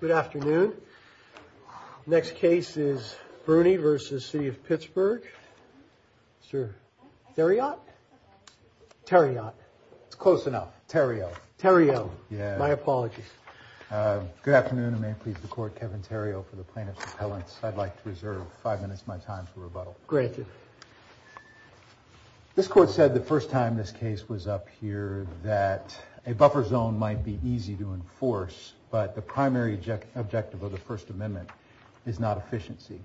Good afternoon. Next case is Bruni v. City of Pittsburgh. Sir, Theriot? Theriot. It's close enough. Theriot. Theriot. Yeah. My apologies. Good afternoon and may it please the court, Kevin Theriot for the plaintiff's appellants. I'd like to reserve five minutes of my time for rebuttal. Granted. This court said the first time this case was up here that a buffer zone might be easy to enforce, but the primary objective of the First Amendment is not efficiency.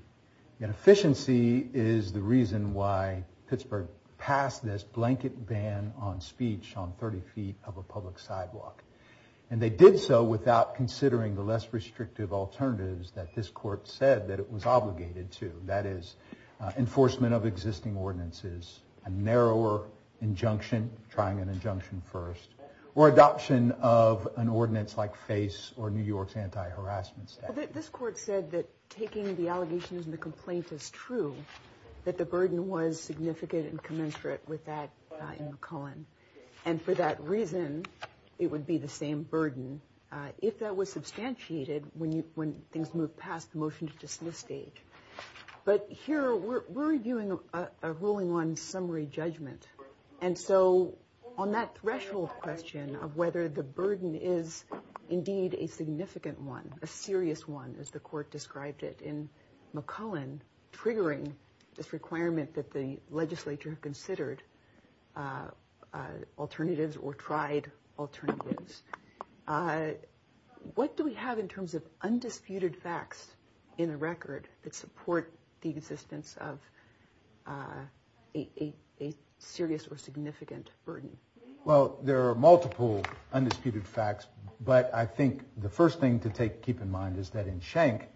Yet efficiency is the reason why Pittsburgh passed this blanket ban on speech on 30 feet of a public sidewalk. And they did so without considering the less restrictive alternatives that this court said that it was obligated to. That is enforcement of existing ordinances, a narrower injunction, trying an injunction first, or adoption of an ordinance like FACE or New York's anti-harassment statute. This court said that taking the allegations in the complaint is true, that the burden was significant and commensurate with that in McClellan. And for that reason, it would be the same burden if that was substantiated when things move past the motion to dismiss stage. But here we're reviewing a ruling on summary judgment. And so on that threshold question of whether the burden is indeed a significant one, a serious one, as the court described it in McClellan, triggering this requirement that the legislature considered alternatives or tried alternatives. What do we have in terms of undisputed facts in a record that support the existence of a serious or significant burden? Well, there are multiple undisputed facts, but I think the first thing to keep in mind is that in Schenck,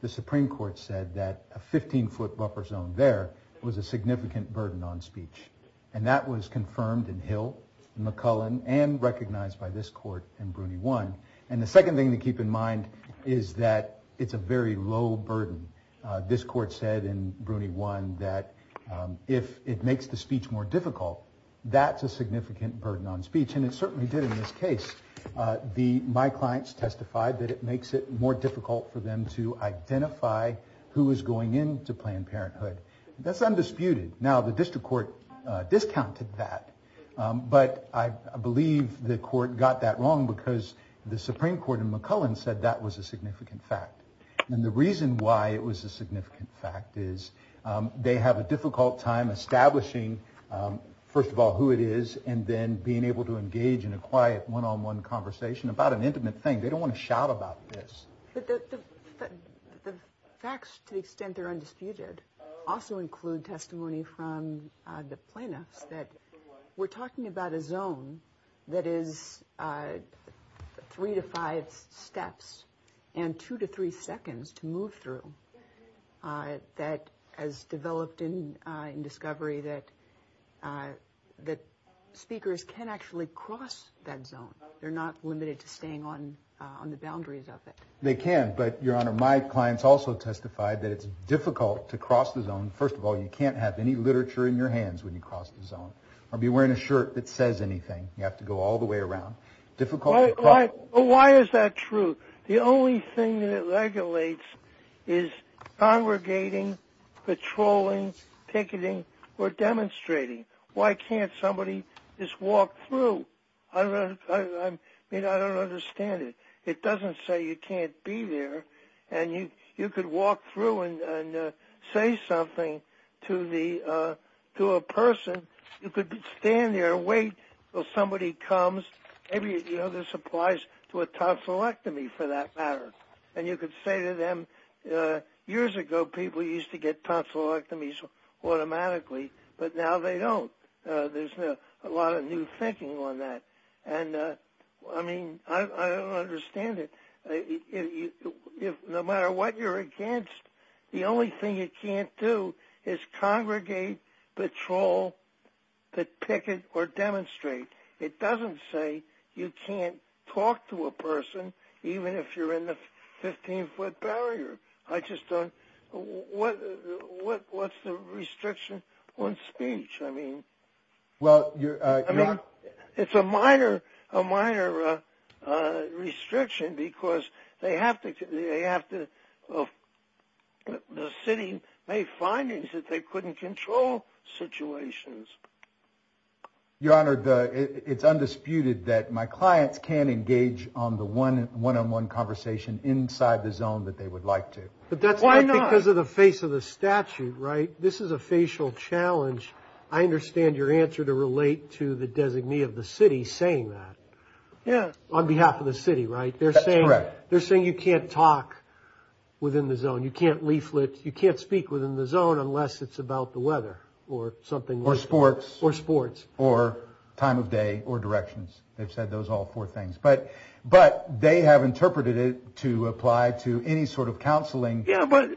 the Supreme Court said that a 15-foot buffer zone there was a significant burden on speech. And that was confirmed in Hill, in McClellan, and recognized by this court in Bruney 1. And the second thing to keep in mind is that it's a very low burden. This court said in Bruney 1 that if it makes the speech more difficult, that's a significant burden on speech. And it certainly did in this case. My clients testified that it makes it more difficult for them to discount that. But I believe the court got that wrong because the Supreme Court in McClellan said that was a significant fact. And the reason why it was a significant fact is they have a difficult time establishing, first of all, who it is, and then being able to engage in a quiet, one-on-one conversation about an intimate thing. They don't want to shout about this. But the facts, to the extent they're undisputed, also include testimony from the plaintiffs that we're talking about a zone that is three to five steps and two to three seconds to move through that has developed in discovery that speakers can actually cross that zone. They're not just staying on the boundaries of it. They can, but Your Honor, my clients also testified that it's difficult to cross the zone. First of all, you can't have any literature in your hands when you cross the zone or be wearing a shirt that says anything. You have to go all the way around. Why is that true? The only thing that it regulates is congregating, patrolling, picketing, or demonstrating. Why can't somebody just walk through? I mean, I don't understand it. It doesn't say you can't be there, and you could walk through and say something to a person. You could stand there and wait until somebody comes. Maybe this applies to a tonsillectomy, for that automatically, but now they don't. There's a lot of new thinking on that, and I mean, I don't understand it. No matter what you're against, the only thing you can't do is congregate, patrol, picket, or demonstrate. It doesn't say you can't talk to a person even if you're in the barrier. What's the restriction on speech? I mean, it's a minor restriction because the city made findings that they couldn't control situations. Your Honor, it's undisputed that my clients can engage on the one-on-one conversation inside the zone that they would like to. Why not? Because of the face of the statute, right? This is a facial challenge. I understand your answer to relate to the designee of the city saying that. Yeah. On behalf of the city, right? That's correct. They're saying you can't talk within the zone. You can't leaflet. You can't speak within the zone unless it's about the weather or something like that. Or sports. Or time of day or directions. They've said those all four things, but they have interpreted it to apply to any sort of counseling. Yeah, but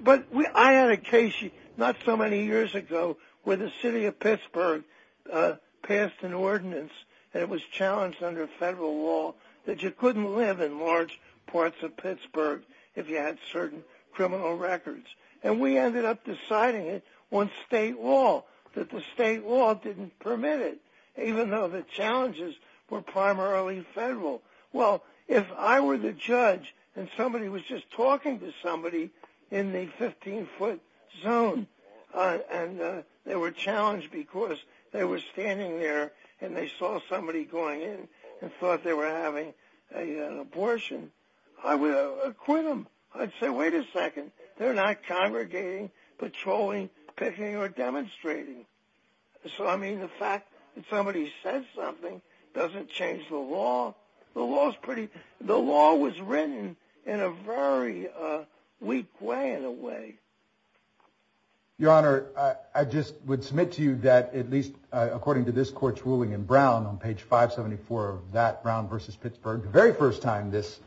I had a case not so many years ago where the city of Pittsburgh passed an ordinance that was challenged under federal law that you couldn't live in large parts of Pittsburgh if you had certain criminal records, and we ended up deciding it on state law that the state law didn't permit it, even though the challenges were primarily federal. Well, if I were the judge and somebody was just talking to somebody in the 15-foot zone and they were challenged because they were standing there and they saw somebody going in and thought they were having an abortion, I would acquit them. I'd say, wait a second, they're not congregating, patrolling, picking, or demonstrating. So, I mean, the fact that somebody said something doesn't change the law. The law was written in a very weak way, in a way. Your Honor, I just would submit to you that at least according to this court's ruling in Brown on page 574 of that Brown v. Pittsburgh, the very first time this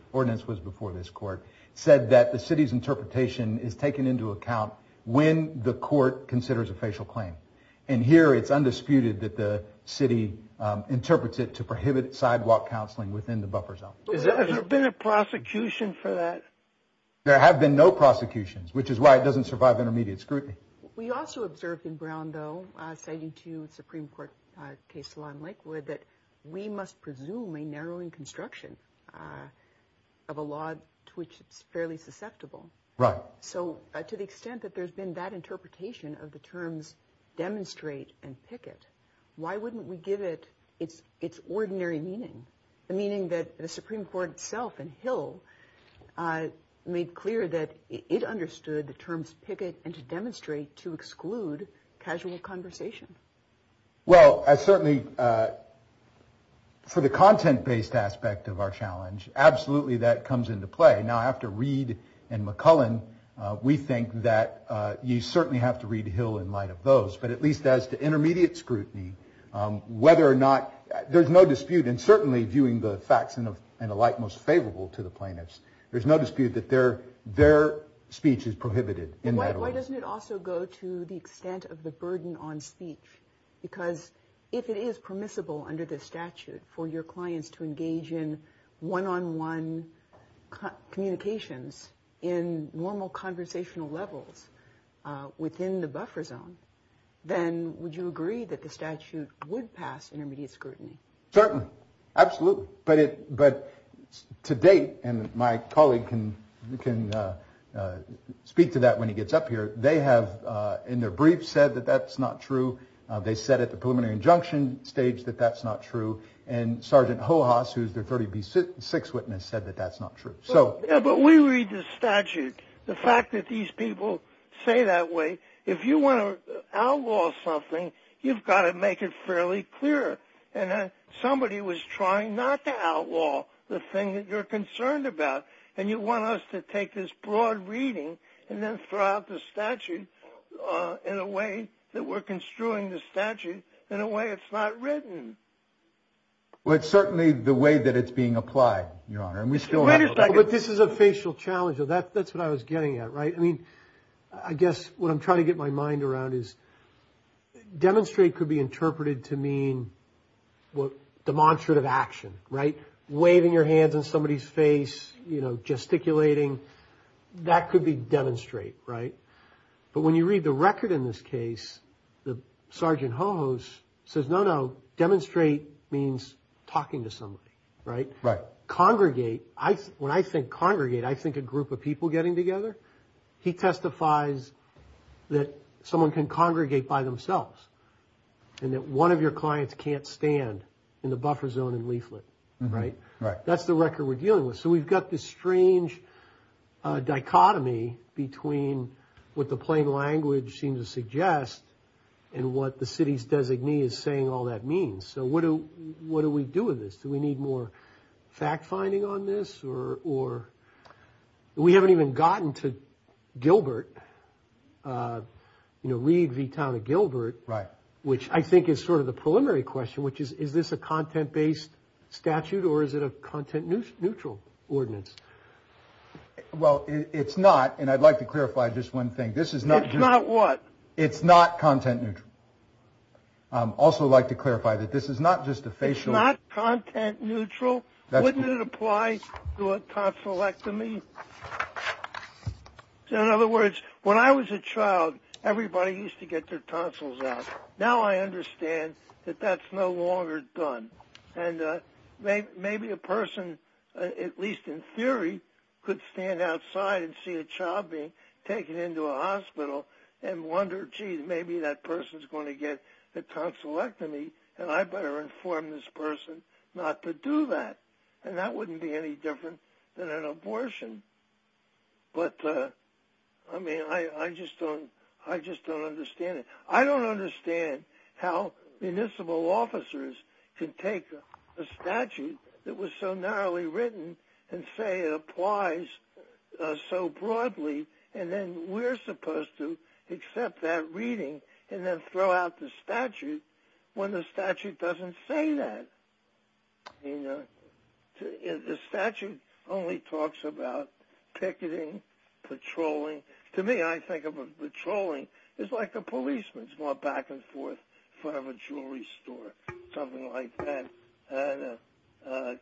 interpretation is taken into account when the court considers a facial claim, and here it's undisputed that the city interprets it to prohibit sidewalk counseling within the buffer zone. Has there been a prosecution for that? There have been no prosecutions, which is why it doesn't survive intermediate scrutiny. We also observed in Brown, though, citing to you the Supreme Court case law in Lakewood, that we must presume a narrowing construction of a law to which it's susceptible. So, to the extent that there's been that interpretation of the terms demonstrate and picket, why wouldn't we give it its ordinary meaning? The meaning that the Supreme Court itself and Hill made clear that it understood the terms picket and to demonstrate to exclude casual conversation. Well, certainly for the content-based aspect of our challenge, absolutely that comes into play. Now after Reed and McCullen, we think that you certainly have to read Hill in light of those, but at least as to intermediate scrutiny, whether or not, there's no dispute, and certainly viewing the facts in a light most favorable to the plaintiffs, there's no dispute that their speech is prohibited. And why doesn't it also go to the extent of the burden on speech? Because if it is permissible under this statute for your clients to engage in one-on-one communications in normal conversational levels within the buffer zone, then would you agree that the statute would pass intermediate scrutiny? Certainly, absolutely, but to date, and my colleague can speak to that when he gets up here, they have in their brief said that that's not true. They said at the preliminary injunction stage that that's not true, and Sergeant Hohas, who's their 36th witness, said that that's not true. But we read the statute. The fact that these people say that way, if you want to outlaw something, you've got to make it fairly clear. And then somebody was trying not to outlaw the thing that you're concerned about, and you want us to take this broad reading and then throw out the statute in a way that we're instruing the statute in a way it's not written. Well, it's certainly the way that it's being applied, Your Honor, and we still have... Wait a second. But this is a facial challenge. That's what I was getting at, right? I mean, I guess what I'm trying to get my mind around is demonstrate could be interpreted to mean demonstrative action, right? Waving your hands in somebody's face, you know, gesticulating, that could be demonstrate, right? But when you read the record in this case, the Sergeant Hohas says, no, no, demonstrate means talking to somebody, right? Congregate, when I think congregate, I think a group of people getting together. He testifies that someone can congregate by themselves, and that one of your clients can't stand in the buffer zone in Leaflet, right? That's the record we're dealing with. So we've got this strange dichotomy between what the plain language seems to suggest and what the city's designee is saying all that means. So what do we do with this? Do we need more fact-finding on this or... We haven't even gotten to Gilbert, you know, Reed v. Town of Gilbert, which I think is sort of the preliminary question, which is, is this a content-based statute or is it a content-neutral ordinance? Well, it's not, and I'd like to clarify just one thing, this is not... It's not what? It's not content-neutral. I'd also like to clarify that this is not just a facial... It's not content-neutral? Wouldn't it apply to a tonsillectomy? In other words, when I was a child, everybody used to get their tonsils out. Now I understand that that's no longer done. And maybe a person, at least in theory, could stand outside and see a child being taken into a hospital and wonder, gee, maybe that person is going to get a tonsillectomy and I better inform this person not to do that. And that wouldn't be any different than an abortion. But, I mean, I just don't understand it. I don't understand how municipal officers can take a statute that was so narrowly written and say it applies so broadly, and then we're supposed to accept that reading and then throw out the statute when the statute doesn't say that. The statute only talks about picketing, patrolling. To me, I think of patrolling as like the policemen going back and forth in front of a jewelry store, something like that. And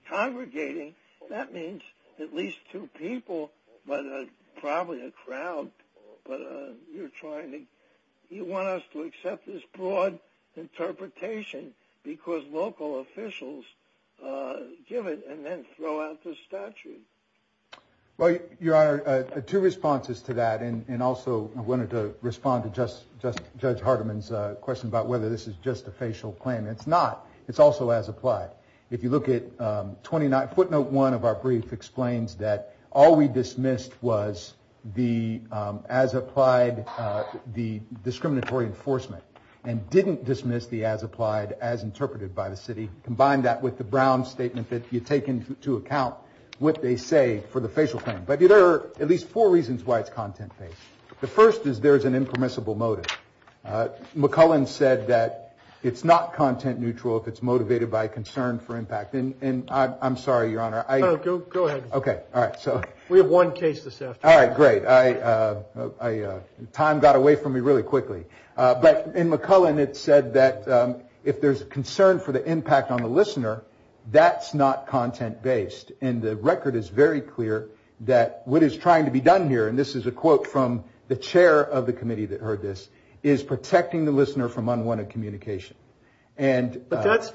congregating, that means at least two people, but probably a crowd. But you're trying to... You want us to accept this broad interpretation because local officials give it and then throw out the statute. Well, Your Honor, two responses to that. And also, I wanted to respond to Judge Hardiman's question about whether this is just a facial claim. It's not. It's also as applied. If you look at footnote one of our brief explains that all we dismissed was the as applied, the discriminatory enforcement, and didn't dismiss the as applied as interpreted by the city. Combine that with the Brown Statement that you take into account what they say for the facial claim. But there are at least four reasons why it's content based. The first is there's an impermissible motive. McCullen said that it's not content neutral if it's motivated by concern for impact. And I'm sorry, Your Honor. Go ahead. Okay. All right. So we have one case this afternoon. All right. Great. Time got away from me really quickly. But in McCullen, it said that if there's concern for the impact on the listener, that's not content based. And the record is very clear that what is trying to be done here, and this is a quote from the chair of the committee that heard this, is protecting the listener from unwanted communication. But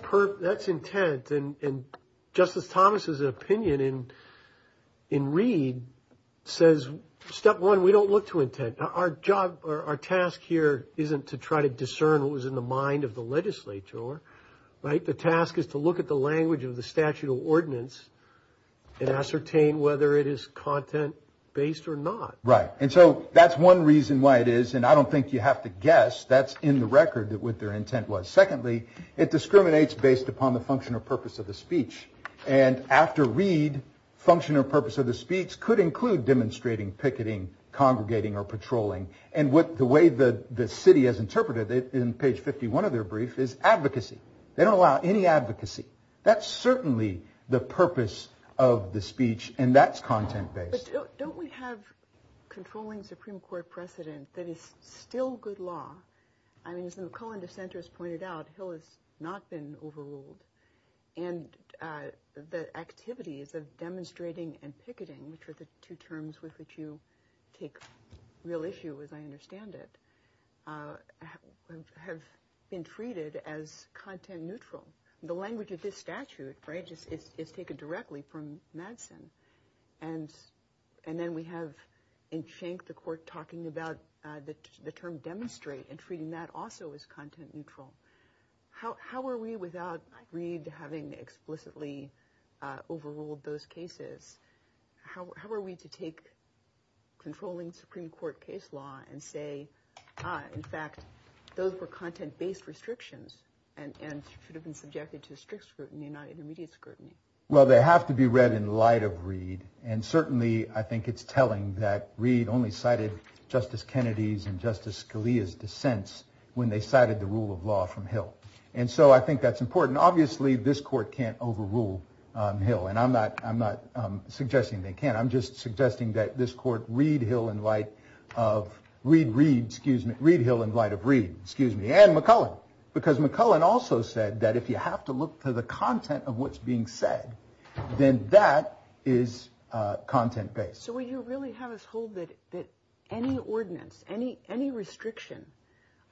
that's intent. And Justice Thomas's opinion in Reed says, step one, we don't look to intent. Our task here isn't to try to right. The task is to look at the language of the statute of ordinance and ascertain whether it is content based or not. Right. And so that's one reason why it is. And I don't think you have to guess. That's in the record that what their intent was. Secondly, it discriminates based upon the function or purpose of the speech. And after Reed, function or purpose of the speech could include demonstrating picketing, congregating, or patrolling. And what the city has interpreted in page 51 of their brief is advocacy. They don't allow any advocacy. That's certainly the purpose of the speech, and that's content based. Don't we have controlling Supreme Court precedent that is still good law? I mean, as the McCullen dissenters pointed out, Hill has not been overruled. And the activities of demonstrating and picketing, which are the two terms with which you take real issue, as I understand it, have been treated as content neutral. The language of this statute, right, is taken directly from Madsen. And then we have in shank the court talking about the term demonstrate and treating that also as content neutral. How are we without Reed having explicitly overruled those cases, how are we to take controlling Supreme Court case law and say, in fact, those were content based restrictions and should have been subjected to strict scrutiny, not intermediate scrutiny? Well, they have to be read in light of Reed. And certainly, I think it's telling that Reed only cited Justice Kennedy's and Justice Scalia's dissents when they cited the rule of law from Hill. And so I think that's important. Obviously, this court can't overrule Hill, and I'm not suggesting they can't. I'm just suggesting that this court read Hill in light of Reed, excuse me, and McCullen. Because McCullen also said that if you have to look to the content of what's being said, then that is content based. So will you really have us hold that any ordinance, any restriction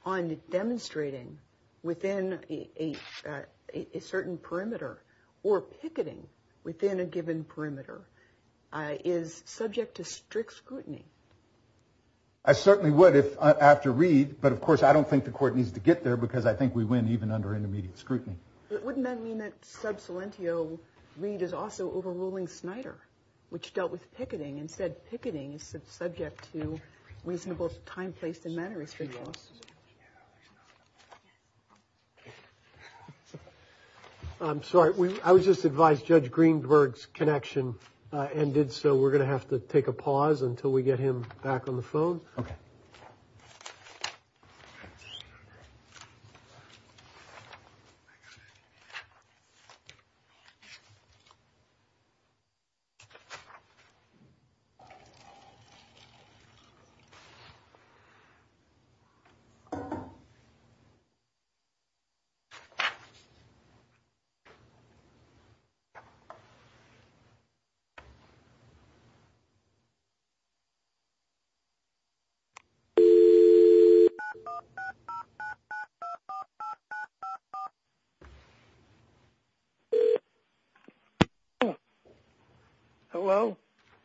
on demonstrating within a certain perimeter or picketing within a given perimeter is subject to strict scrutiny? I certainly would if after Reed, but of course, I don't think the court needs to get there, because I think we win even under intermediate scrutiny. Wouldn't that mean that sub salientio Reed is also overruling Snyder, which dealt with picketing? Instead, picketing is subject to reasonable time placed in manner. I'm sorry, I was just advised Judge Greenberg's connection and did so we're going to have to take a pause until we get him back on the phone.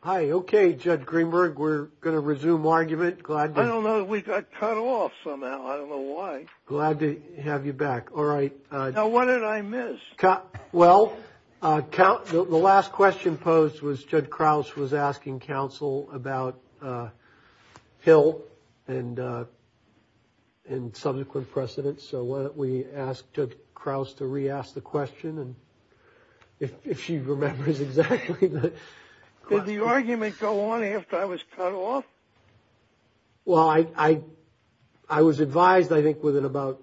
Hi, okay, Judge Greenberg, we're going to resume argument. I don't know, we got cut off somehow. I don't know why. Glad to have you back. All right. Now, what did I miss? Well, the last question posed was Judge Krause was asking counsel about Hill and subsequent precedents. So why don't we ask Judge Krause to re-ask the question, and if she remembers exactly the question. Did the argument go on after I was cut off? Well, I was advised, I think, within about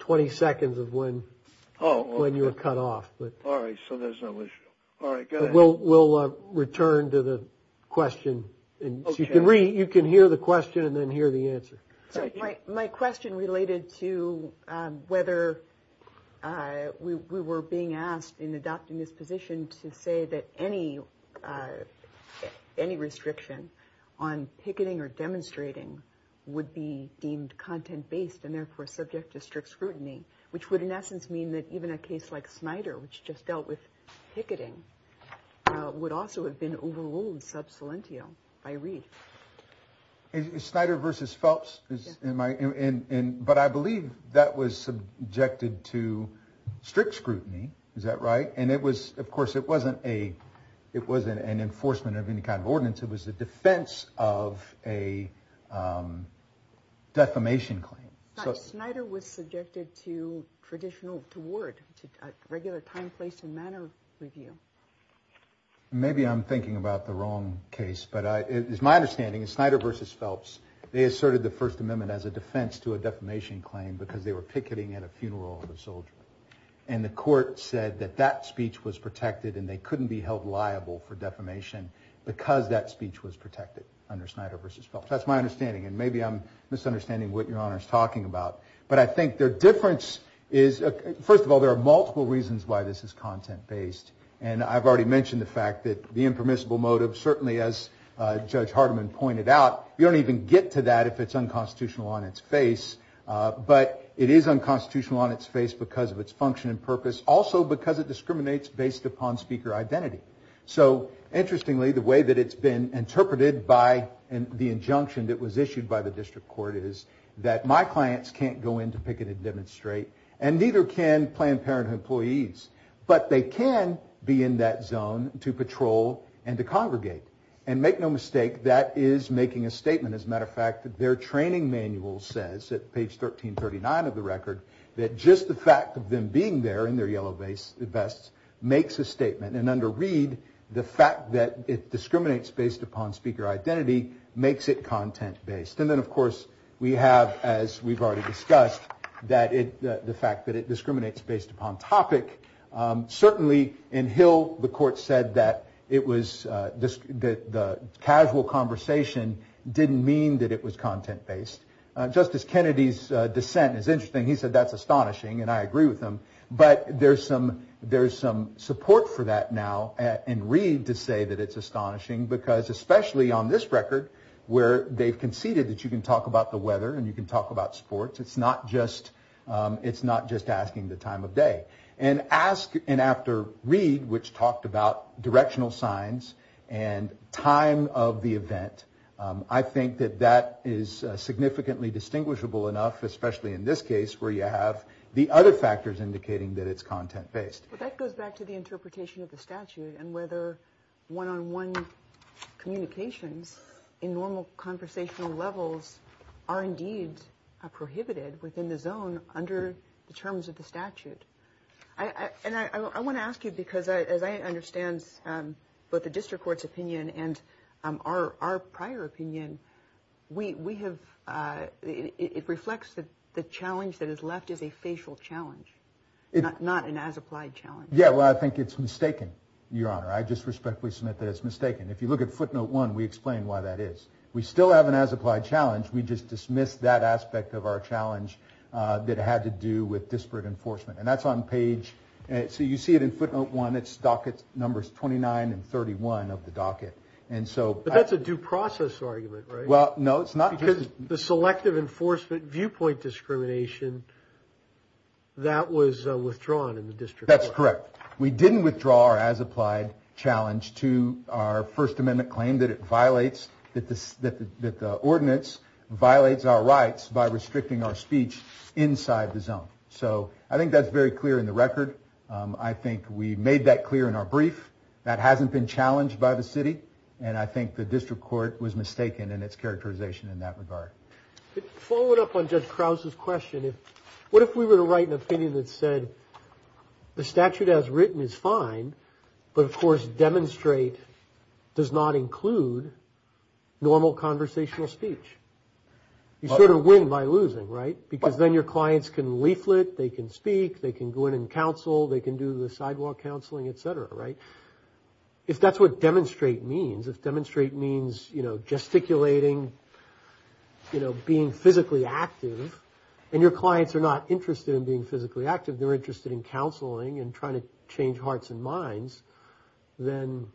20 seconds of when you were cut off. All right, so there's no issue. All right, go ahead. We'll return to the question. You can hear the question and then hear the answer. My question related to whether we were being asked in adopting this position to say that any restriction on picketing or demonstrating would be deemed content-based and therefore subject to strict scrutiny, which would in essence mean that even a case like Snyder, which just dealt with picketing, would also have been overruled sub salentio by Reith. Snyder versus Phelps, but I believe that was subjected to strict scrutiny, is that right? And it was, of course, it wasn't an enforcement of any kind of ordinance. It was the defense of a defamation claim. Snyder was subjected to traditional, to ward, to regular time, place, and manner review. And maybe I'm thinking about the wrong case, but it's my understanding that Snyder versus Phelps, they asserted the First Amendment as a defense to a defamation claim because they were picketing at a funeral of a soldier. And the court said that that speech was protected and they couldn't be held liable for defamation because that speech was protected under Snyder versus Phelps. That's my understanding. And maybe I'm misunderstanding what your honor is talking about. But I think their difference is, first of all, there are multiple reasons why this is content-based. And I've already mentioned the fact that the impermissible motive, certainly as Judge Hardeman pointed out, you don't even get to that if it's unconstitutional on its face. But it is unconstitutional on its face because of its function and purpose, also because it discriminates based upon speaker identity. So interestingly, the way that it's been interpreted by the injunction that was issued by the district court is that my clients can't picket and demonstrate and neither can Planned Parenthood employees. But they can be in that zone to patrol and to congregate. And make no mistake, that is making a statement. As a matter of fact, their training manual says, at page 1339 of the record, that just the fact of them being there in their yellow vests makes a statement. And under Reed, the fact that it discriminates based upon speaker identity makes it content-based. And then, of course, we have, as we've already discussed, the fact that it discriminates based upon topic. Certainly, in Hill, the court said that the casual conversation didn't mean that it was content-based. Justice Kennedy's dissent is interesting. He said that's astonishing, and I agree with him. But there's some support for that now in Reed to say that it's astonishing because, especially on this record, where they've conceded that you can talk about the weather and you can talk about sports, it's not just asking the time of day. And after Reed, which talked about directional signs and time of the event, I think that that is significantly distinguishable enough, especially in this case, where you have the other factors indicating that it's content-based. But that goes back to the interpretation of the statute and whether one-on-one communications in normal conversational levels are indeed prohibited within the zone under the terms of the statute. And I want to ask you because, as I understand both the District Court's opinion and our prior opinion, it reflects that the challenge that is left is a facial challenge, not an as-applied challenge. Well, I think it's mistaken, Your Honor. I just respectfully submit that it's mistaken. If you look at footnote one, we explain why that is. We still have an as-applied challenge. We just dismiss that aspect of our challenge that had to do with disparate enforcement. And that's on page, so you see it in footnote one. It's docket numbers 29 and 31 of the docket. But that's a due process argument, right? Well, no, it's not. Because the selective enforcement viewpoint discrimination, that was withdrawn in the District Court. That's correct. We didn't withdraw our as-applied challenge to our First Amendment claim that it ordinance violates our rights by restricting our speech inside the zone. So I think that's very clear in the record. I think we made that clear in our brief. That hasn't been challenged by the city. And I think the District Court was mistaken in its characterization in that regard. Following up on Judge Krause's question, what if we were to write an opinion that said, the statute as written is fine, but of course, demonstrate does not include normal conversational speech? You sort of win by losing, right? Because then your clients can leaflet, they can speak, they can go in and counsel, they can do the sidewalk counseling, et cetera, right? If that's what demonstrate means, if demonstrate means gesticulating, being physically active, and your clients are not interested in being physically active, they're interested in counseling and trying to change hearts and minds, then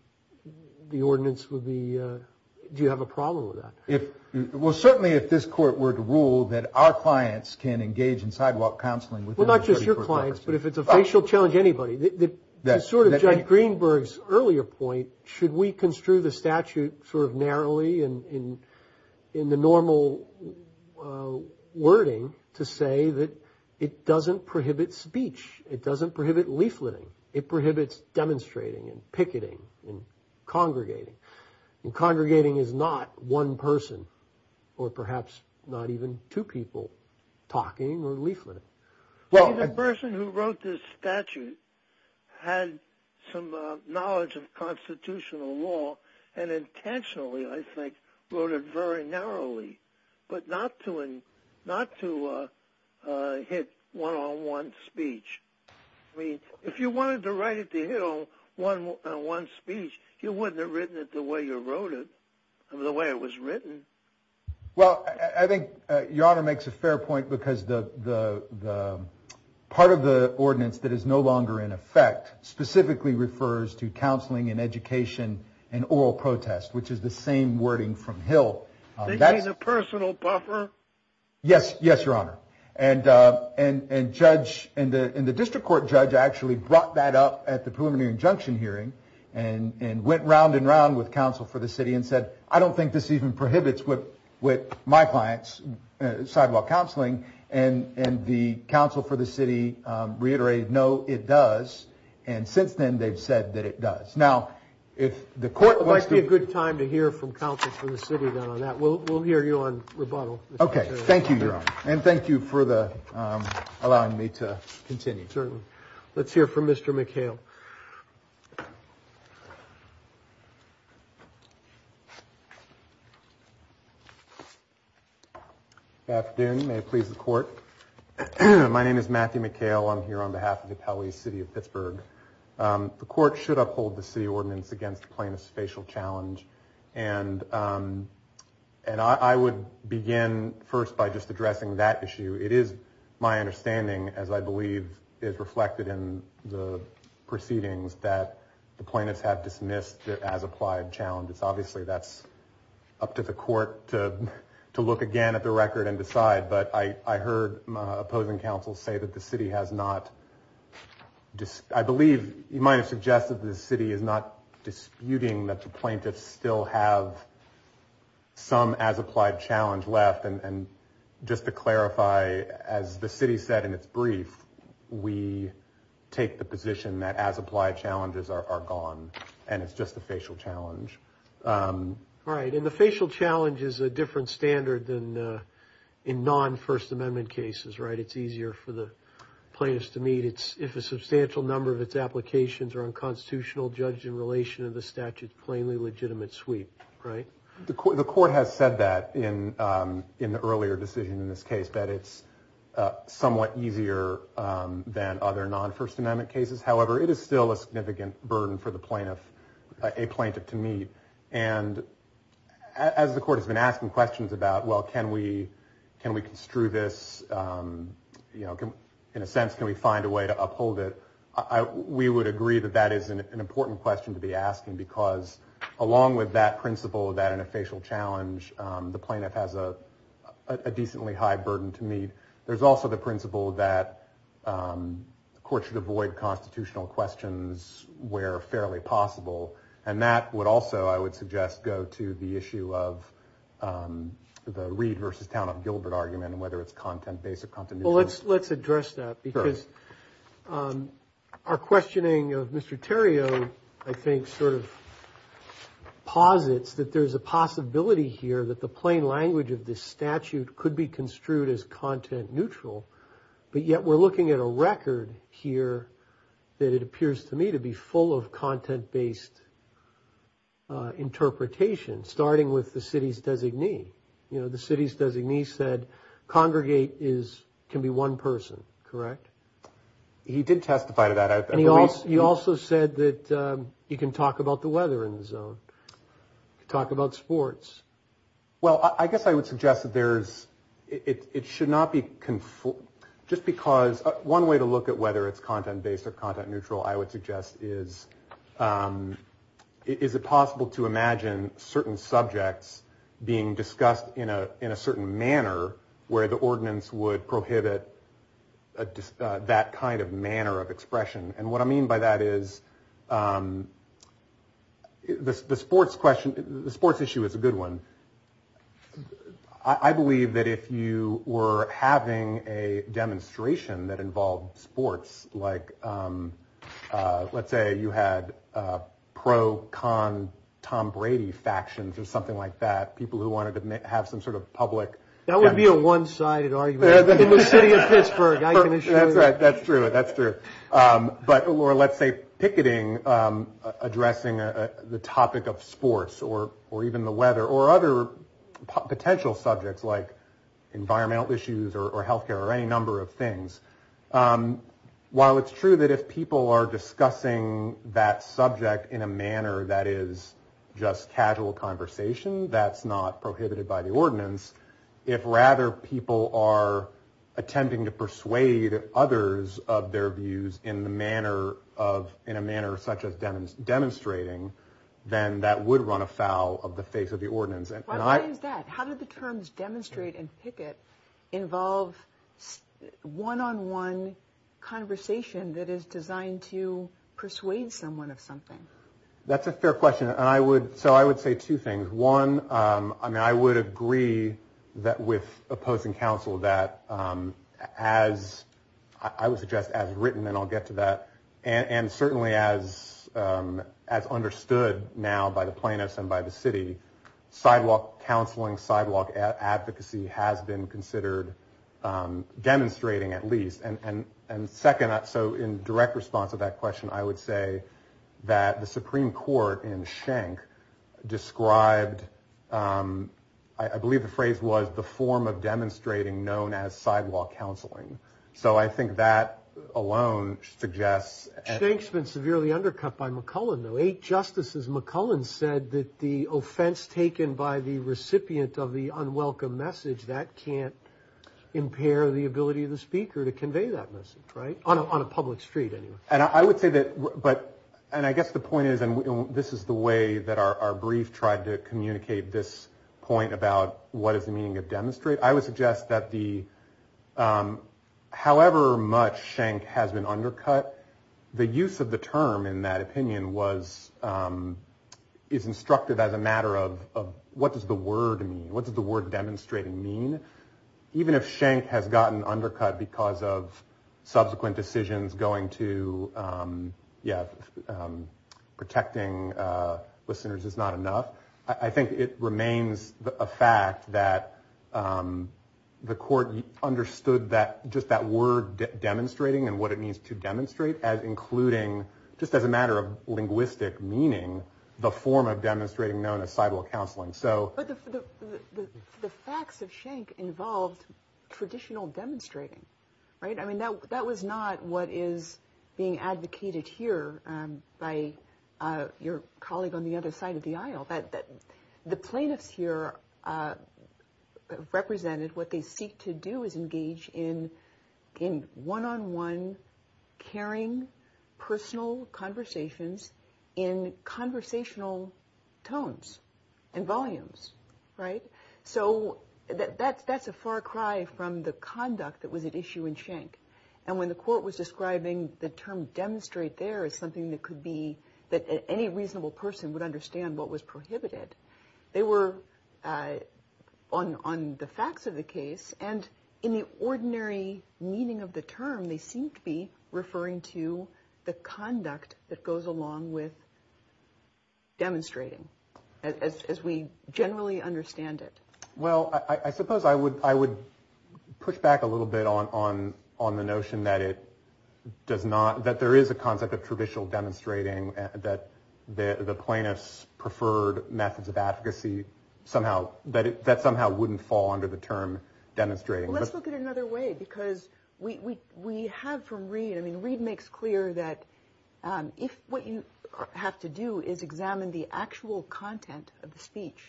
the ordinance would be, do you have a problem with that? If, well, certainly if this court were to rule that our clients can engage in sidewalk counseling within the 30 court documents. Well, not just your clients, but if it's a facial challenge, anybody. The sort of Judge Greenberg's earlier point, should we construe the statute sort of narrowly in the normal wording to say that it doesn't prohibit speech, it doesn't prohibit leafleting, it prohibits demonstrating and picketing and congregating. And congregating is not one person, or perhaps not even two people talking or leafleting. Well, the person who wrote this statute had some knowledge of constitutional law and intentionally, I think, wrote it very narrowly, but not to hit one-on-one speech. I mean, if you wanted to write it to hit one-on-one speech, you wouldn't have written it the way you wrote it, the way it was written. Well, I think Your Honor makes a fair point because part of the ordinance that is no longer in effect specifically refers to counseling and education and oral protest, which is the same wording from Hill. Do you mean a personal buffer? Yes. Yes, Your Honor. And the district court judge actually brought that up at the preliminary injunction hearing and went round and round with counsel for the city and said, I don't think this even prohibits with my clients sidewalk counseling. And the counsel for the city does. And since then, they've said that it does. Now, if the court wants to... It might be a good time to hear from counsel for the city on that. We'll hear you on rebuttal. Okay. Thank you, Your Honor. And thank you for allowing me to continue. Certainly. Let's hear from Mr. McHale. Good afternoon. May it please the court. My name is Matthew McHale. I'm here on behalf of the city of Pittsburgh. The court should uphold the city ordinance against plaintiff's facial challenge. And I would begin first by just addressing that issue. It is my understanding, as I believe is reflected in the proceedings, that the plaintiffs have dismissed as applied challenge. It's obviously that's up to the court to look again at the record and decide. But I heard my opposing counsel say that the city has not... I believe you might have suggested the city is not disputing that the plaintiffs still have some as applied challenge left. And just to clarify, as the city said in its brief, we take the position that as applied challenges are gone and it's just a facial challenge. Right. And the facial challenge is a different standard than in non-First Amendment cases, right? It's easier for the plaintiffs to meet if a substantial number of its applications are unconstitutional, judged in relation to the statute's plainly legitimate sweep, right? The court has said that in the earlier decision in this case, that it's somewhat easier than other non-First Amendment cases. However, it is still a significant burden for the plaintiff, a plaintiff to meet. And as the court has been asking questions about, well, can we construe this? In a sense, can we find a way to uphold it? We would agree that that is an important question to be asking because along with that principle, that in a facial challenge, the plaintiff has a decently high burden to meet. There's also the principle that the court should avoid constitutional questions where fairly possible. And that would also, I would suggest, go to the issue of the Reed versus Town of Gilbert argument and whether it's content-based or content-neutral. Well, let's address that because our questioning of Mr. Theriault, I think, sort of posits that there's a possibility here that the plain language of this statute could be construed as content-neutral, but yet we're looking at a record here that it appears to me to be full of content-based interpretation, starting with the city's designee. The city's designee said congregate can be one person, correct? He did testify to that. And he also said that you can talk about the weather in the zone, talk about sports. Well, I guess I would suggest that it should not be, just because one way to look at whether it's content-based or content-neutral, I would suggest is, is it possible to imagine certain subjects being discussed in a certain manner where the ordinance would prohibit that kind of manner of expression? And what I mean by that is the sports question, the sports issue is a good one. I believe that if you were having a demonstration that involved sports, like, let's say you had pro-con Tom Brady factions or something like that, people who wanted to have some sort of public... That would be a one-sided argument. In the city of Pittsburgh, I can assure you. That's right. That's true. That's true. But, or let's say picketing, addressing the topic of sports or, or even the weather or other potential subjects like environmental issues or healthcare or any number of things. While it's true that if people are discussing that subject in a manner that is just casual conversation, that's not prohibited by the ordinance. If rather people are attempting to persuade others of their views in the manner of, in a manner such as demonstrating, then that would run afoul of the face of the ordinance. Why is that? How did the terms demonstrate and picket involve one-on-one conversation that is designed to persuade someone of something? That's a fair question. And I would, so I would say two things. One, I mean, I would agree that with opposing counsel that as I would suggest as written, and I'll get to that. And certainly as understood now by the plaintiffs and by the city, sidewalk counseling, sidewalk advocacy has been considered demonstrating at least. And second, so in direct response to that question, I would say that the Supreme Court in Schenck described, I believe the phrase was the form of demonstrating known as sidewalk counseling. So I think that alone suggests. Schenck's been severely undercut by McCullen though. Eight justices, McCullen said that the offense taken by the recipient of the unwelcome message that can't And I would say that, but, and I guess the point is, and this is the way that our brief tried to communicate this point about what is the meaning of demonstrate. I would suggest that the, however much Schenck has been undercut, the use of the term in that opinion was, is instructed as a matter of what does the word mean? What does the word demonstrating mean? Even if Schenck has gotten undercut because of subsequent decisions going to, yeah, protecting listeners is not enough. I think it remains a fact that the court understood that, just that word demonstrating and what it means to demonstrate as including, just as a matter of linguistic meaning, the form of demonstrating known as sidewalk counseling. But the facts of Schenck involved traditional demonstrating, right? I mean, that was not what is being advocated here by your colleague on the other side of the aisle, that the plaintiffs here represented what they seek to do is engage in one-on-one, caring, personal conversations in conversational tones and volumes, right? So that's a far cry from the conduct that was at issue in Schenck. And when the court was describing the term demonstrate there as something that could be, that any reasonable person would understand what was prohibited, they were on the facts of the case and in the ordinary meaning of the term, they seemed to be referring to the conduct that along with demonstrating as we generally understand it. Well, I suppose I would push back a little bit on the notion that it does not, that there is a concept of traditional demonstrating that the plaintiffs preferred methods of advocacy somehow, that somehow wouldn't fall under the term demonstrating. Well, let's look at it another way because we have from Reid, I mean, Reid makes clear that if what you have to do is examine the actual content of the speech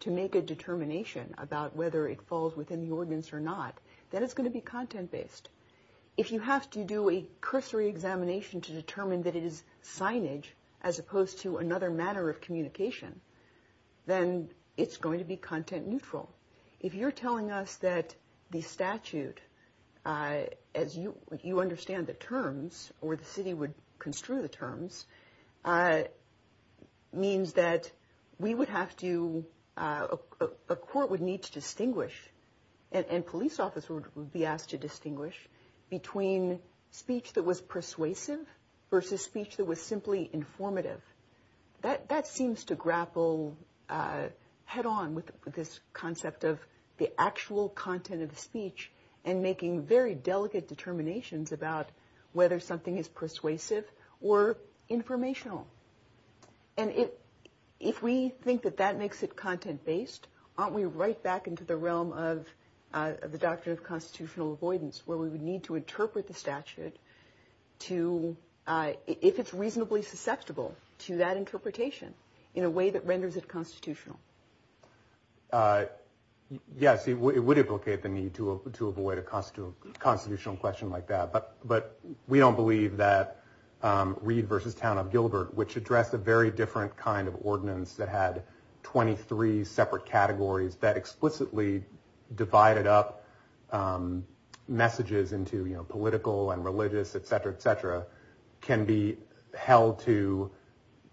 to make a determination about whether it falls within the ordinance or not, then it's going to be content-based. If you have to do a cursory examination to determine that it is signage as opposed to another manner of communication, then it's going to be content neutral. If you're telling us that the statute, as you understand the terms or the city would construe the terms, means that we would have to, a court would need to distinguish and police officer would be asked to distinguish between speech that was persuasive versus speech that was simply informative. That seems to grapple head on with this concept of the actual content of the speech and making very delicate determinations about whether something is persuasive or informational. And if we think that that makes it content-based, aren't we right back into the realm of the doctrine of constitutional avoidance where we would need to interpret the statute to, if it's reasonably susceptible to that interpretation in a way that renders it constitutional? Yes, it would implicate the need to avoid a constitutional question like that. But we don't believe that Reid versus Town of Gilbert, which addressed a very different kind of ordinance that had 23 separate categories that explicitly divided up messages into political and religious, et cetera, et cetera, can be held to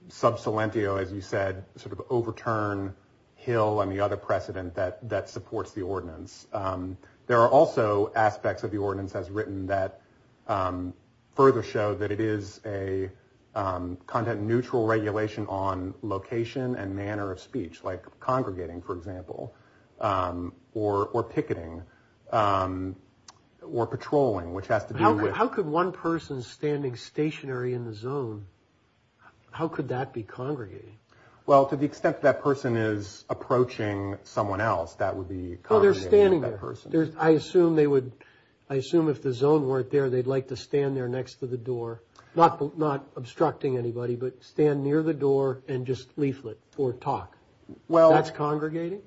sub silentio, as you said, sort of overturn Hill and the other precedent that supports the ordinance. There are also aspects of the ordinance as written that further show that it is a content neutral regulation on location and manner of speech, like congregating, for example, or picketing, or patrolling, which has to do with- How could one person standing stationary in the zone, how could that be congregating? Well, to the extent that person is approaching someone else, that would be congregating that person. I assume if the zone weren't there, they'd like to stand there next to the door, not obstructing anybody, but stand near the door and just leaflet or talk. That's congregating?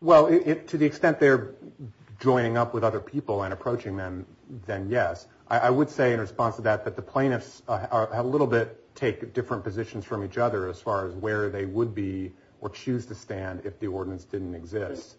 Well, to the extent they're joining up with other people and approaching them, then yes. I would say in response to that, that the plaintiffs have a little bit take different positions from each other as far as where they would be or choose to stand if the ordinance didn't exist.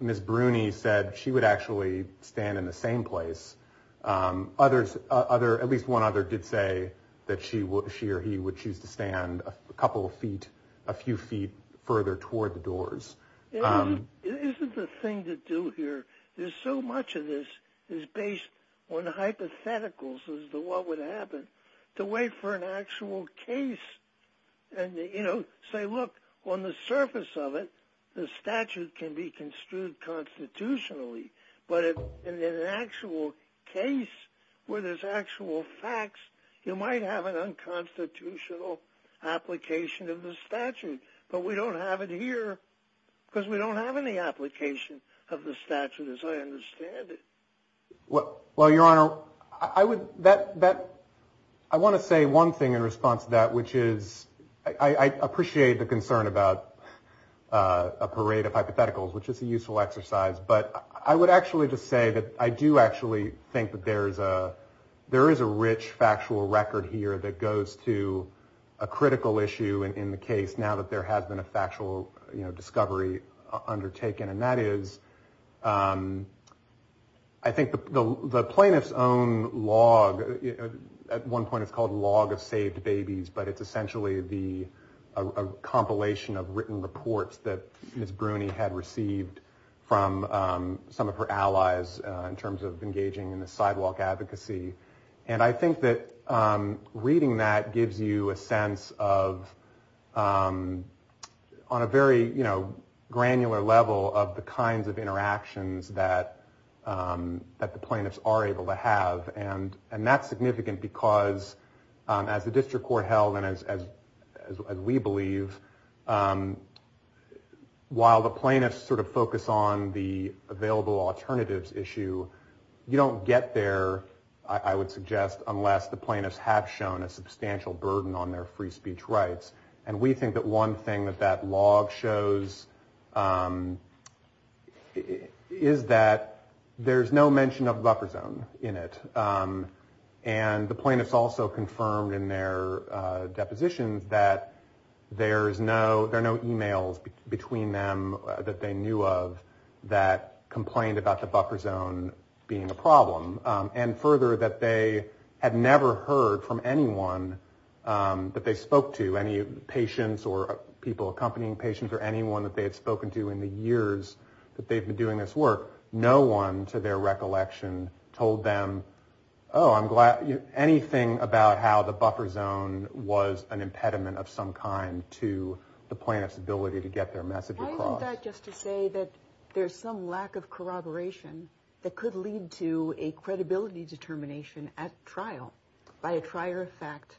Ms. Bruni said she would actually stand in the same place. Others, at least one other did say that she or he would choose to stand a couple of feet, a few feet further toward the doors. Isn't the thing to do here is so much of this is based on hypotheticals as to what would happen to wait for an actual case and say, look, on the surface of it, the statute can be construed constitutionally, but in an actual case where there's actual facts, you might have an unconstitutional application of the statute, but we don't have it here because we don't have any application of the statute as I understand it. Well, Your Honor, I want to say one thing in response to that, which is I appreciate the concern about a parade of hypotheticals, which is a useful exercise, but I would actually just say that I do actually think that there is a rich factual record here that goes to a critical issue in the case now that there has been a factual discovery undertaken, and that is I think the plaintiff's own log, at one point it's called Log of Saved Babies, but it's essentially a compilation of written reports that Ms. Bruni had received from some of her allies in terms of engaging in the sidewalk advocacy, and I think that reading that gives you a sense of, on a very granular level, of the kinds of interactions that the plaintiffs are able to have, and that's significant because as the district court held, and as we believe, while the plaintiffs sort of focus on the available alternatives issue, you don't get there, I would suggest, unless the plaintiffs have shown a substantial burden on their free speech rights, and we think that one thing that that log shows is that there's no mention of the buffer zone in it, and the plaintiffs also confirmed in their depositions that there are no emails between them that they knew of that complained about the buffer zone being a problem, and further, that they had never heard from anyone that they spoke to, any patients or people accompanying patients or anyone that they had spoken to in the years that they've been doing this work, no one, to their recollection, told them, oh, I'm glad, anything about how the buffer zone was an impediment of some kind to the plaintiff's ability to get their message across. Why isn't that just to say that there's some lack of corroboration that could lead to a credibility determination at trial, by a trier effect,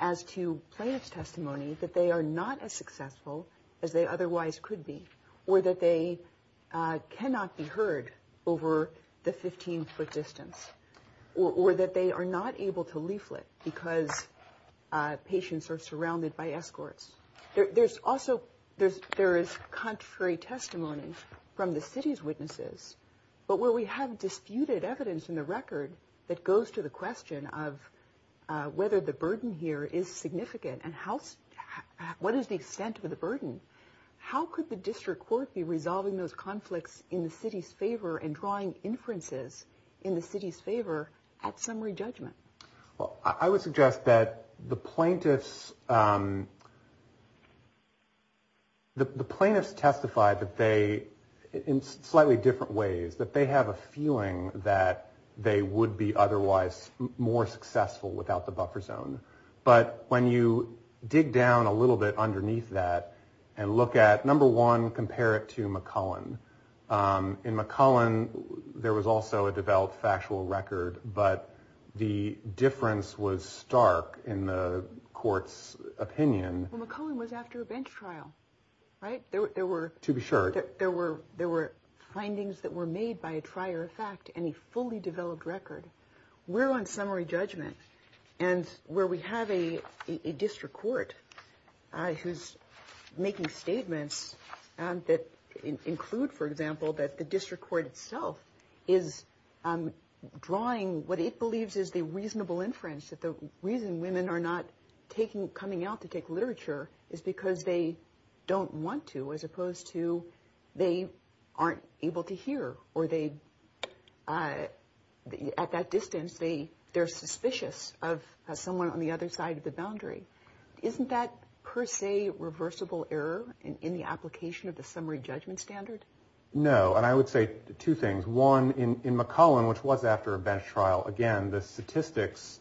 as to plaintiff's testimony that they are not as successful as they otherwise could be, or that they cannot be heard over the 15-foot distance, or that they are not able to leaflet because patients are surrounded by escorts. There's also, there is contrary testimony from the city's witnesses, but where we have disputed evidence in the record that goes to the question of whether the burden here is significant, and what is the extent of the burden, how could the district court be resolving those conflicts in the city's favor and drawing inferences in the city's favor at summary judgment? Well, I would suggest that the plaintiffs, the plaintiffs testify that they, in slightly different ways, that they have a feeling that they would be otherwise more successful without the buffer zone. But when you dig down a little bit underneath that and look at, number one, compare it to McCullen. In McCullen, there was also a developed factual record, but the difference was stark in the court's opinion. Well, McCullen was after a bench trial, right? There were... To be sure. There were findings that were made by a trier of fact and a fully developed record. We're on summary judgment, and where we have a district court who's making statements that include, for example, that the district court itself is drawing what it believes is the reasonable inference, that the reason women are not coming out to take literature is because they don't want to, as opposed to they aren't able to hear, or they... At that distance, they're suspicious of someone on the other side of the boundary. Isn't that per se reversible error in the application of the summary judgment standard? No, and I would say two things. One, in McCullen, which was after a bench trial, again, the statistics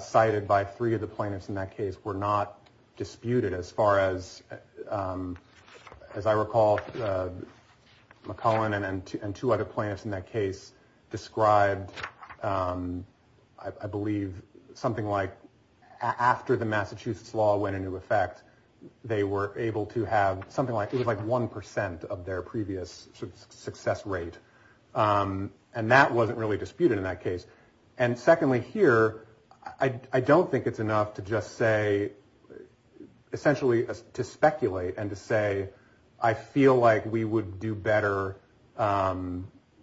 cited by three of the plaintiffs in that case were not disputed as far as I recall. McCullen and two other plaintiffs in that case described, I believe, something like after the Massachusetts law went into effect, they were able to have something like... It was like 1% of their previous success rate, and that wasn't really disputed in that case. And secondly here, I don't think it's enough to just say, essentially to speculate and to say, I feel like we would do better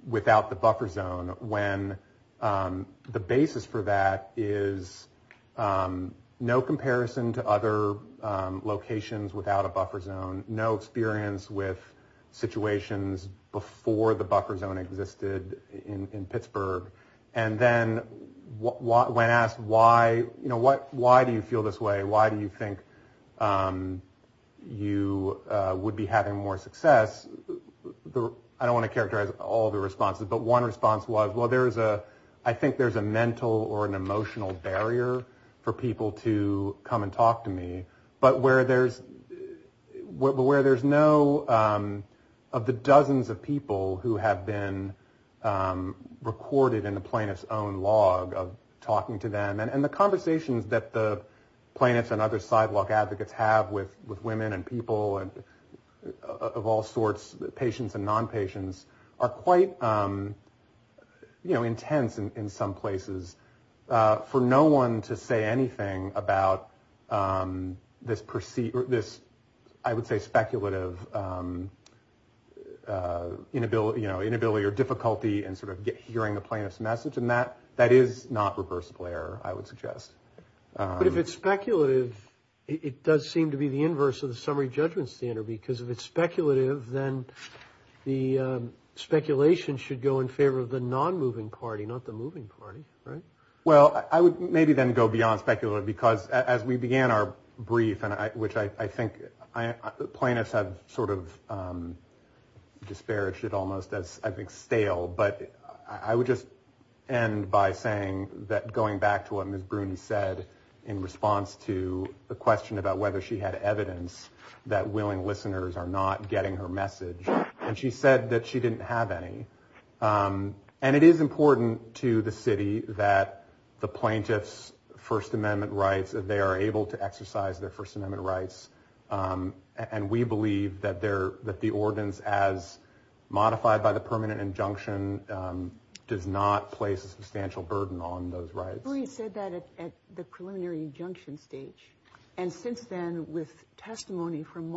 without the buffer zone when the basis for that is no comparison to other locations without a buffer zone, no experience with situations before the law. When asked, why do you feel this way? Why do you think you would be having more success? I don't want to characterize all the responses, but one response was, well, I think there's a mental or an emotional barrier for people to come and talk to me, where there's no... Of the dozens of people who have been recorded in the plaintiff's own log of talking to them, and the conversations that the plaintiffs and other sidewalk advocates have with women and people and of all sorts, patients and non-patients, are quite intense in some places. For no one to say anything about this, I would say, speculative inability or difficulty in sort of hearing the plaintiff's message, and that is not reversible error, I would suggest. But if it's speculative, it does seem to be the inverse of the summary judgment standard, because if it's speculative, then the speculation should go in favor of the non-moving party, not the moving party, right? Well, I would maybe then go beyond speculative, because as we began our brief, which I think plaintiffs have sort of disparaged it almost as, I think, stale, but I would just end by saying that going back to what Ms. Bruni said in response to the question about whether she had evidence that willing listeners are not getting her message, and she said that she didn't have any. And it is important to the city that the plaintiffs' First Amendment rights, that they are able to exercise their First Amendment rights, and we believe that the ordinance as modified by the permanent injunction does not place a substantial burden on those rights. Bruni said that at the preliminary injunction stage, and since then, with testimony from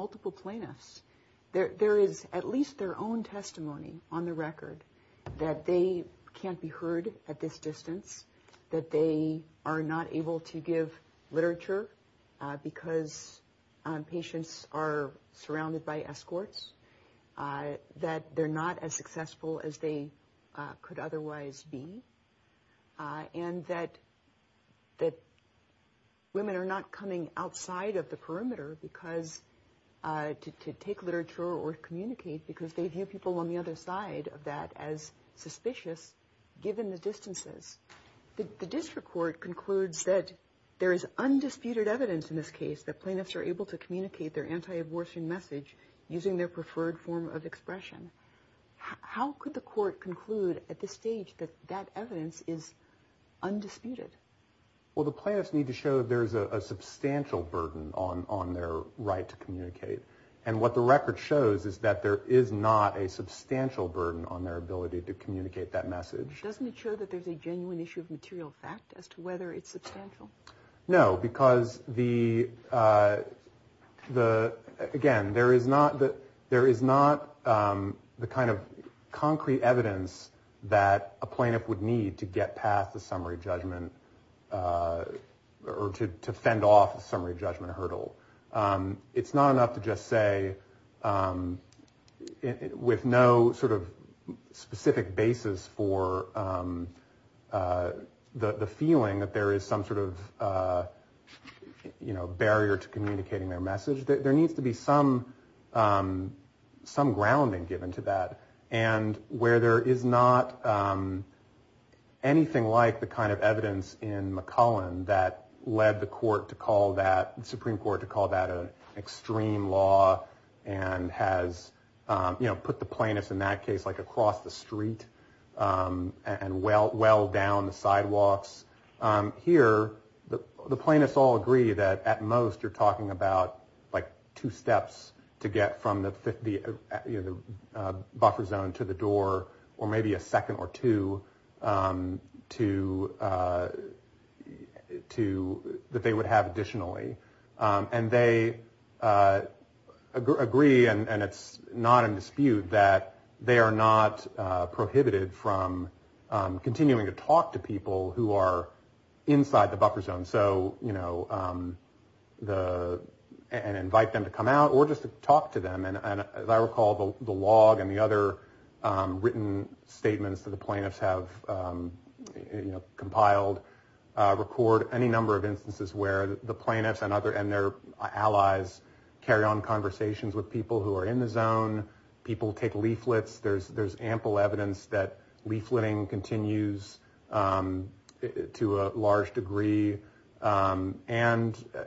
that they can't be heard at this distance, that they are not able to give literature because patients are surrounded by escorts, that they're not as successful as they could otherwise be, and that women are not coming outside of the perimeter because to take literature or communicate because they view people on the other side of that as suspicious, given the distances. The district court concludes that there is undisputed evidence in this case that plaintiffs are able to communicate their anti-abortion message using their preferred form of expression. How could the court conclude at this stage that that evidence is undisputed? Well, the plaintiffs need to show that there's a substantial burden on their right to communicate. And what the record shows is that there is not a substantial burden on their ability to communicate that message. Doesn't it show that there's a genuine issue of material fact as to whether it's substantial? No, because, again, there is not the kind of concrete evidence that a plaintiff would need to get past the summary judgment or to fend off the summary judgment hurdle. It's not enough to just say with no sort of specific basis for the feeling that there is some sort of barrier to communicating their message. There needs to be some grounding given to that. And where there is not anything like the kind of evidence in McCullen that led the Supreme Court to call that an extreme law and has put the plaintiffs in that case across the street and well down the sidewalks. Here, the plaintiffs all agree that at most you're talking about like two steps to get from the buffer zone to the door or maybe a second or two that they would have additionally. And they agree, and it's not in dispute, that they are not prohibited from continuing to inside the buffer zone and invite them to come out or just to talk to them. And as I recall, the log and the other written statements that the plaintiffs have compiled record any number of instances where the plaintiffs and their allies carry on conversations with people who are in the zone. People take leaflets. There's ample evidence that leafleting continues to a large degree. And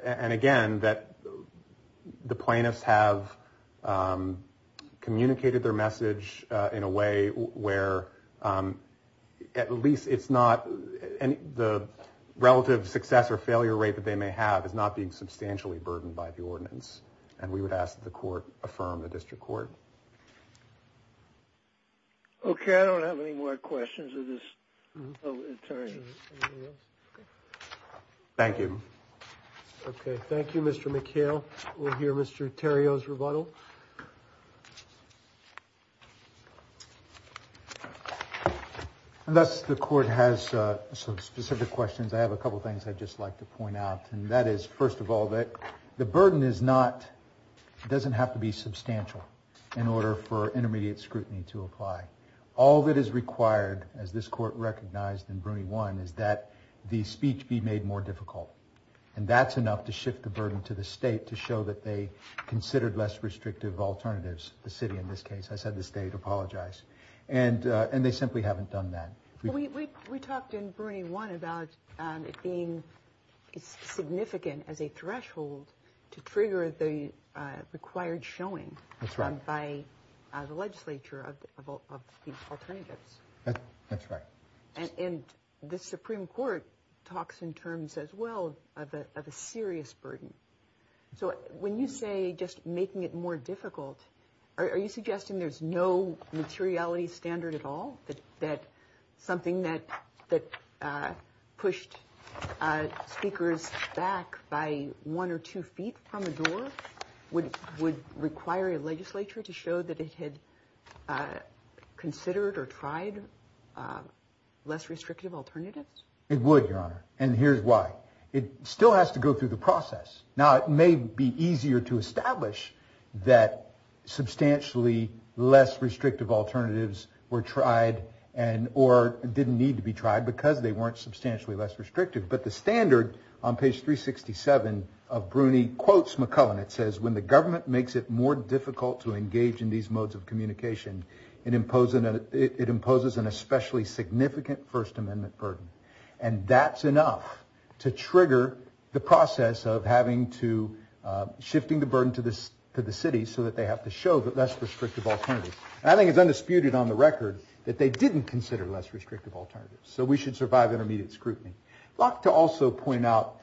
again, that the plaintiffs have communicated their message in a way where at least it's not the relative success or failure rate that they may have is not being substantially burdened by the ordinance. And we would ask that the court affirm the district court. OK, I don't have any more questions of this. Thank you. OK, thank you, Mr. McHale. We'll hear Mr. Theriault's rebuttal. Unless the court has some specific questions, I have a couple of things I'd just like to point out. And that is, first of all, that the burden is not doesn't have to be substantial in order for intermediate scrutiny to apply. All that is required, as this court recognized in Bruny 1, is that the speech be made more difficult. And that's enough to shift the burden to the state to show that they considered less restrictive alternatives. The city, in this case. I said the state. Apologize. And they simply haven't done that. We talked in Bruny 1 about it being significant as a threshold to trigger the required showing by the legislature of the alternatives. That's right. And the Supreme Court talks in terms as well of a serious burden. So when you say just making it more difficult, are you suggesting there's no materiality standard at all that something that that pushed speakers back by one or two feet from the would require a legislature to show that it had considered or tried less restrictive alternatives? It would, Your Honor. And here's why. It still has to go through the process. Now, it may be easier to establish that substantially less restrictive alternatives were tried and or didn't need to be tried because they weren't substantially less restrictive. But the standard on page 367 of Bruny quotes McClellan. It says, when the government makes it more difficult to engage in these modes of communication, it imposes an especially significant First Amendment burden. And that's enough to trigger the process of having to shifting the burden to the city so that they have to show that less restrictive alternatives. I think it's undisputed on the record that they didn't consider less restrictive alternatives. So we should survive intermediate scrutiny. I'd like to also point out,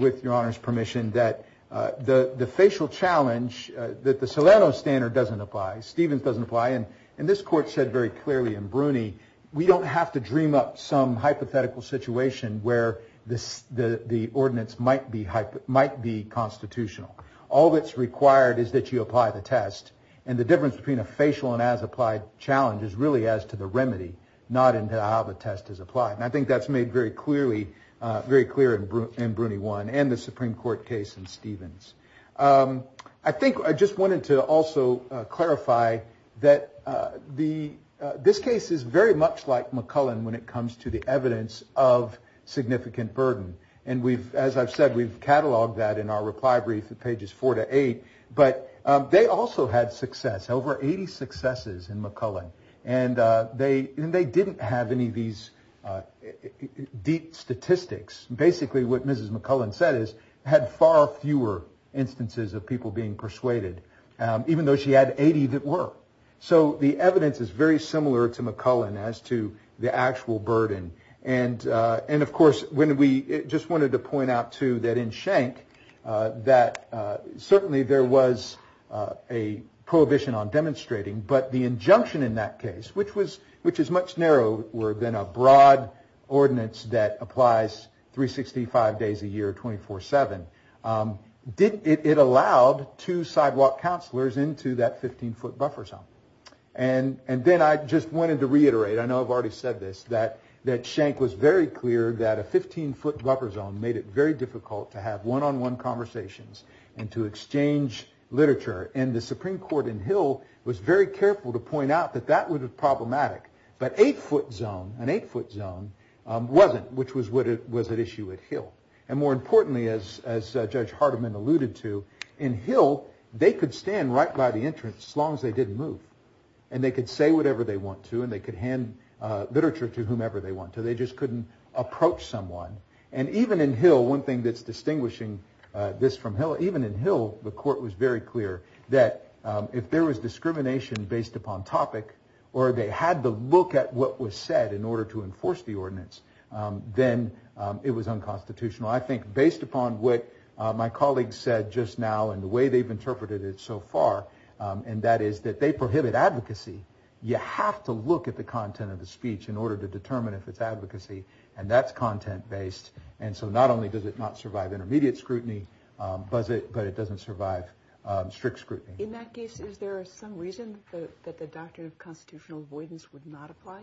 with Your Honor's permission, that the facial challenge that the Salerno standard doesn't apply, Stevens doesn't apply, and this Court said very clearly in Bruny, we don't have to dream up some hypothetical situation where the ordinance might be constitutional. All that's required is that you apply the test. And the difference between a facial and as-applied challenge is really as to the remedy, not into how the test is applied. And I think that's made very clearly in Bruny 1 and the Supreme Court case in Stevens. I think I just wanted to also clarify that this case is very much like McClellan when it comes to the evidence of significant burden. And as I've said, we've cataloged that in our reply brief at pages 4 to 8. But they also had success, over 80 successes in McClellan. And they didn't have any of these deep statistics. Basically, what Mrs. McClellan said is, had far fewer instances of people being persuaded, even though she had 80 that were. So the evidence is very similar to McClellan as to the actual burden. And of course, we just wanted to point out, too, that in Schenck, that certainly there was a prohibition on demonstrating. But the injunction in that case, which is much narrower than a broad ordinance that applies 365 days a year, 24-7, it allowed two sidewalk counselors into that 15-foot buffer zone. And then I just wanted to reiterate, I know I've already said this, that Schenck was very clear that a 15-foot buffer zone made it very difficult to have one-on-one conversations and to exchange literature. And the Supreme Court in Hill was very careful to point out that that was problematic. But an eight-foot zone wasn't, which was an issue at Hill. And more importantly, as Judge Hardiman alluded to, in Hill, they could stand right by the entrance as long as they didn't move. And they could say whatever they want to. And they could hand literature to whomever they want to. They just couldn't approach someone. And even in Hill, one thing that's distinguishing this from Hill, even in Hill, the court was very clear that if there was discrimination based upon topic or they had to look at what was said in order to enforce the ordinance, then it was unconstitutional. I think based upon what my colleagues said just now and the way they've interpreted it so far, and that is that they prohibit advocacy. You have to look at the content of the speech in order to determine if it's advocacy. And that's content-based. And so not only does it not survive intermediate scrutiny, but it doesn't survive strict scrutiny. In that case, is there some reason that the doctrine of constitutional avoidance would not apply?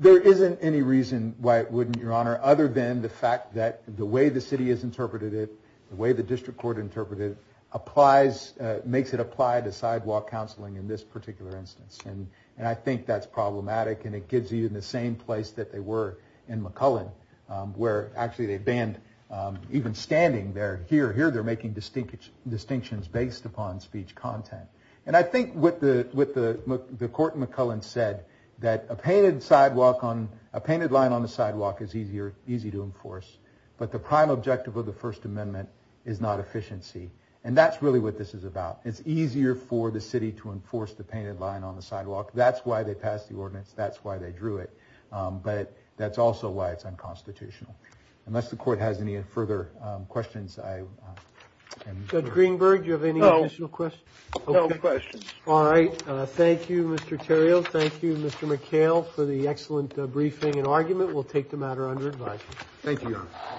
There isn't any reason why it wouldn't, Your Honor, other than the fact that the way the city has interpreted it, the way the district court interpreted it, makes it apply to sidewalk counseling in this particular instance. And I think that's problematic. And it gives you the same place that they were in McCullen, where actually they banned even standing there. Here, they're making distinctions based upon speech content. And I think what the court in McCullen said, that a painted line on the sidewalk is easy to enforce. But the prime objective of the First Amendment is not efficiency. And that's really what this is about. It's easier for the city to enforce the painted line on the sidewalk. That's why they passed the ordinance. That's why they drew it. But that's also why it's unconstitutional. Unless the court has any further questions, I am— Judge Greenberg, do you have any additional questions? No questions. All right. Thank you, Mr. Terrio. Thank you, Mr. McHale, for the excellent briefing and argument. We'll take the matter under advice. Thank you, Your Honor.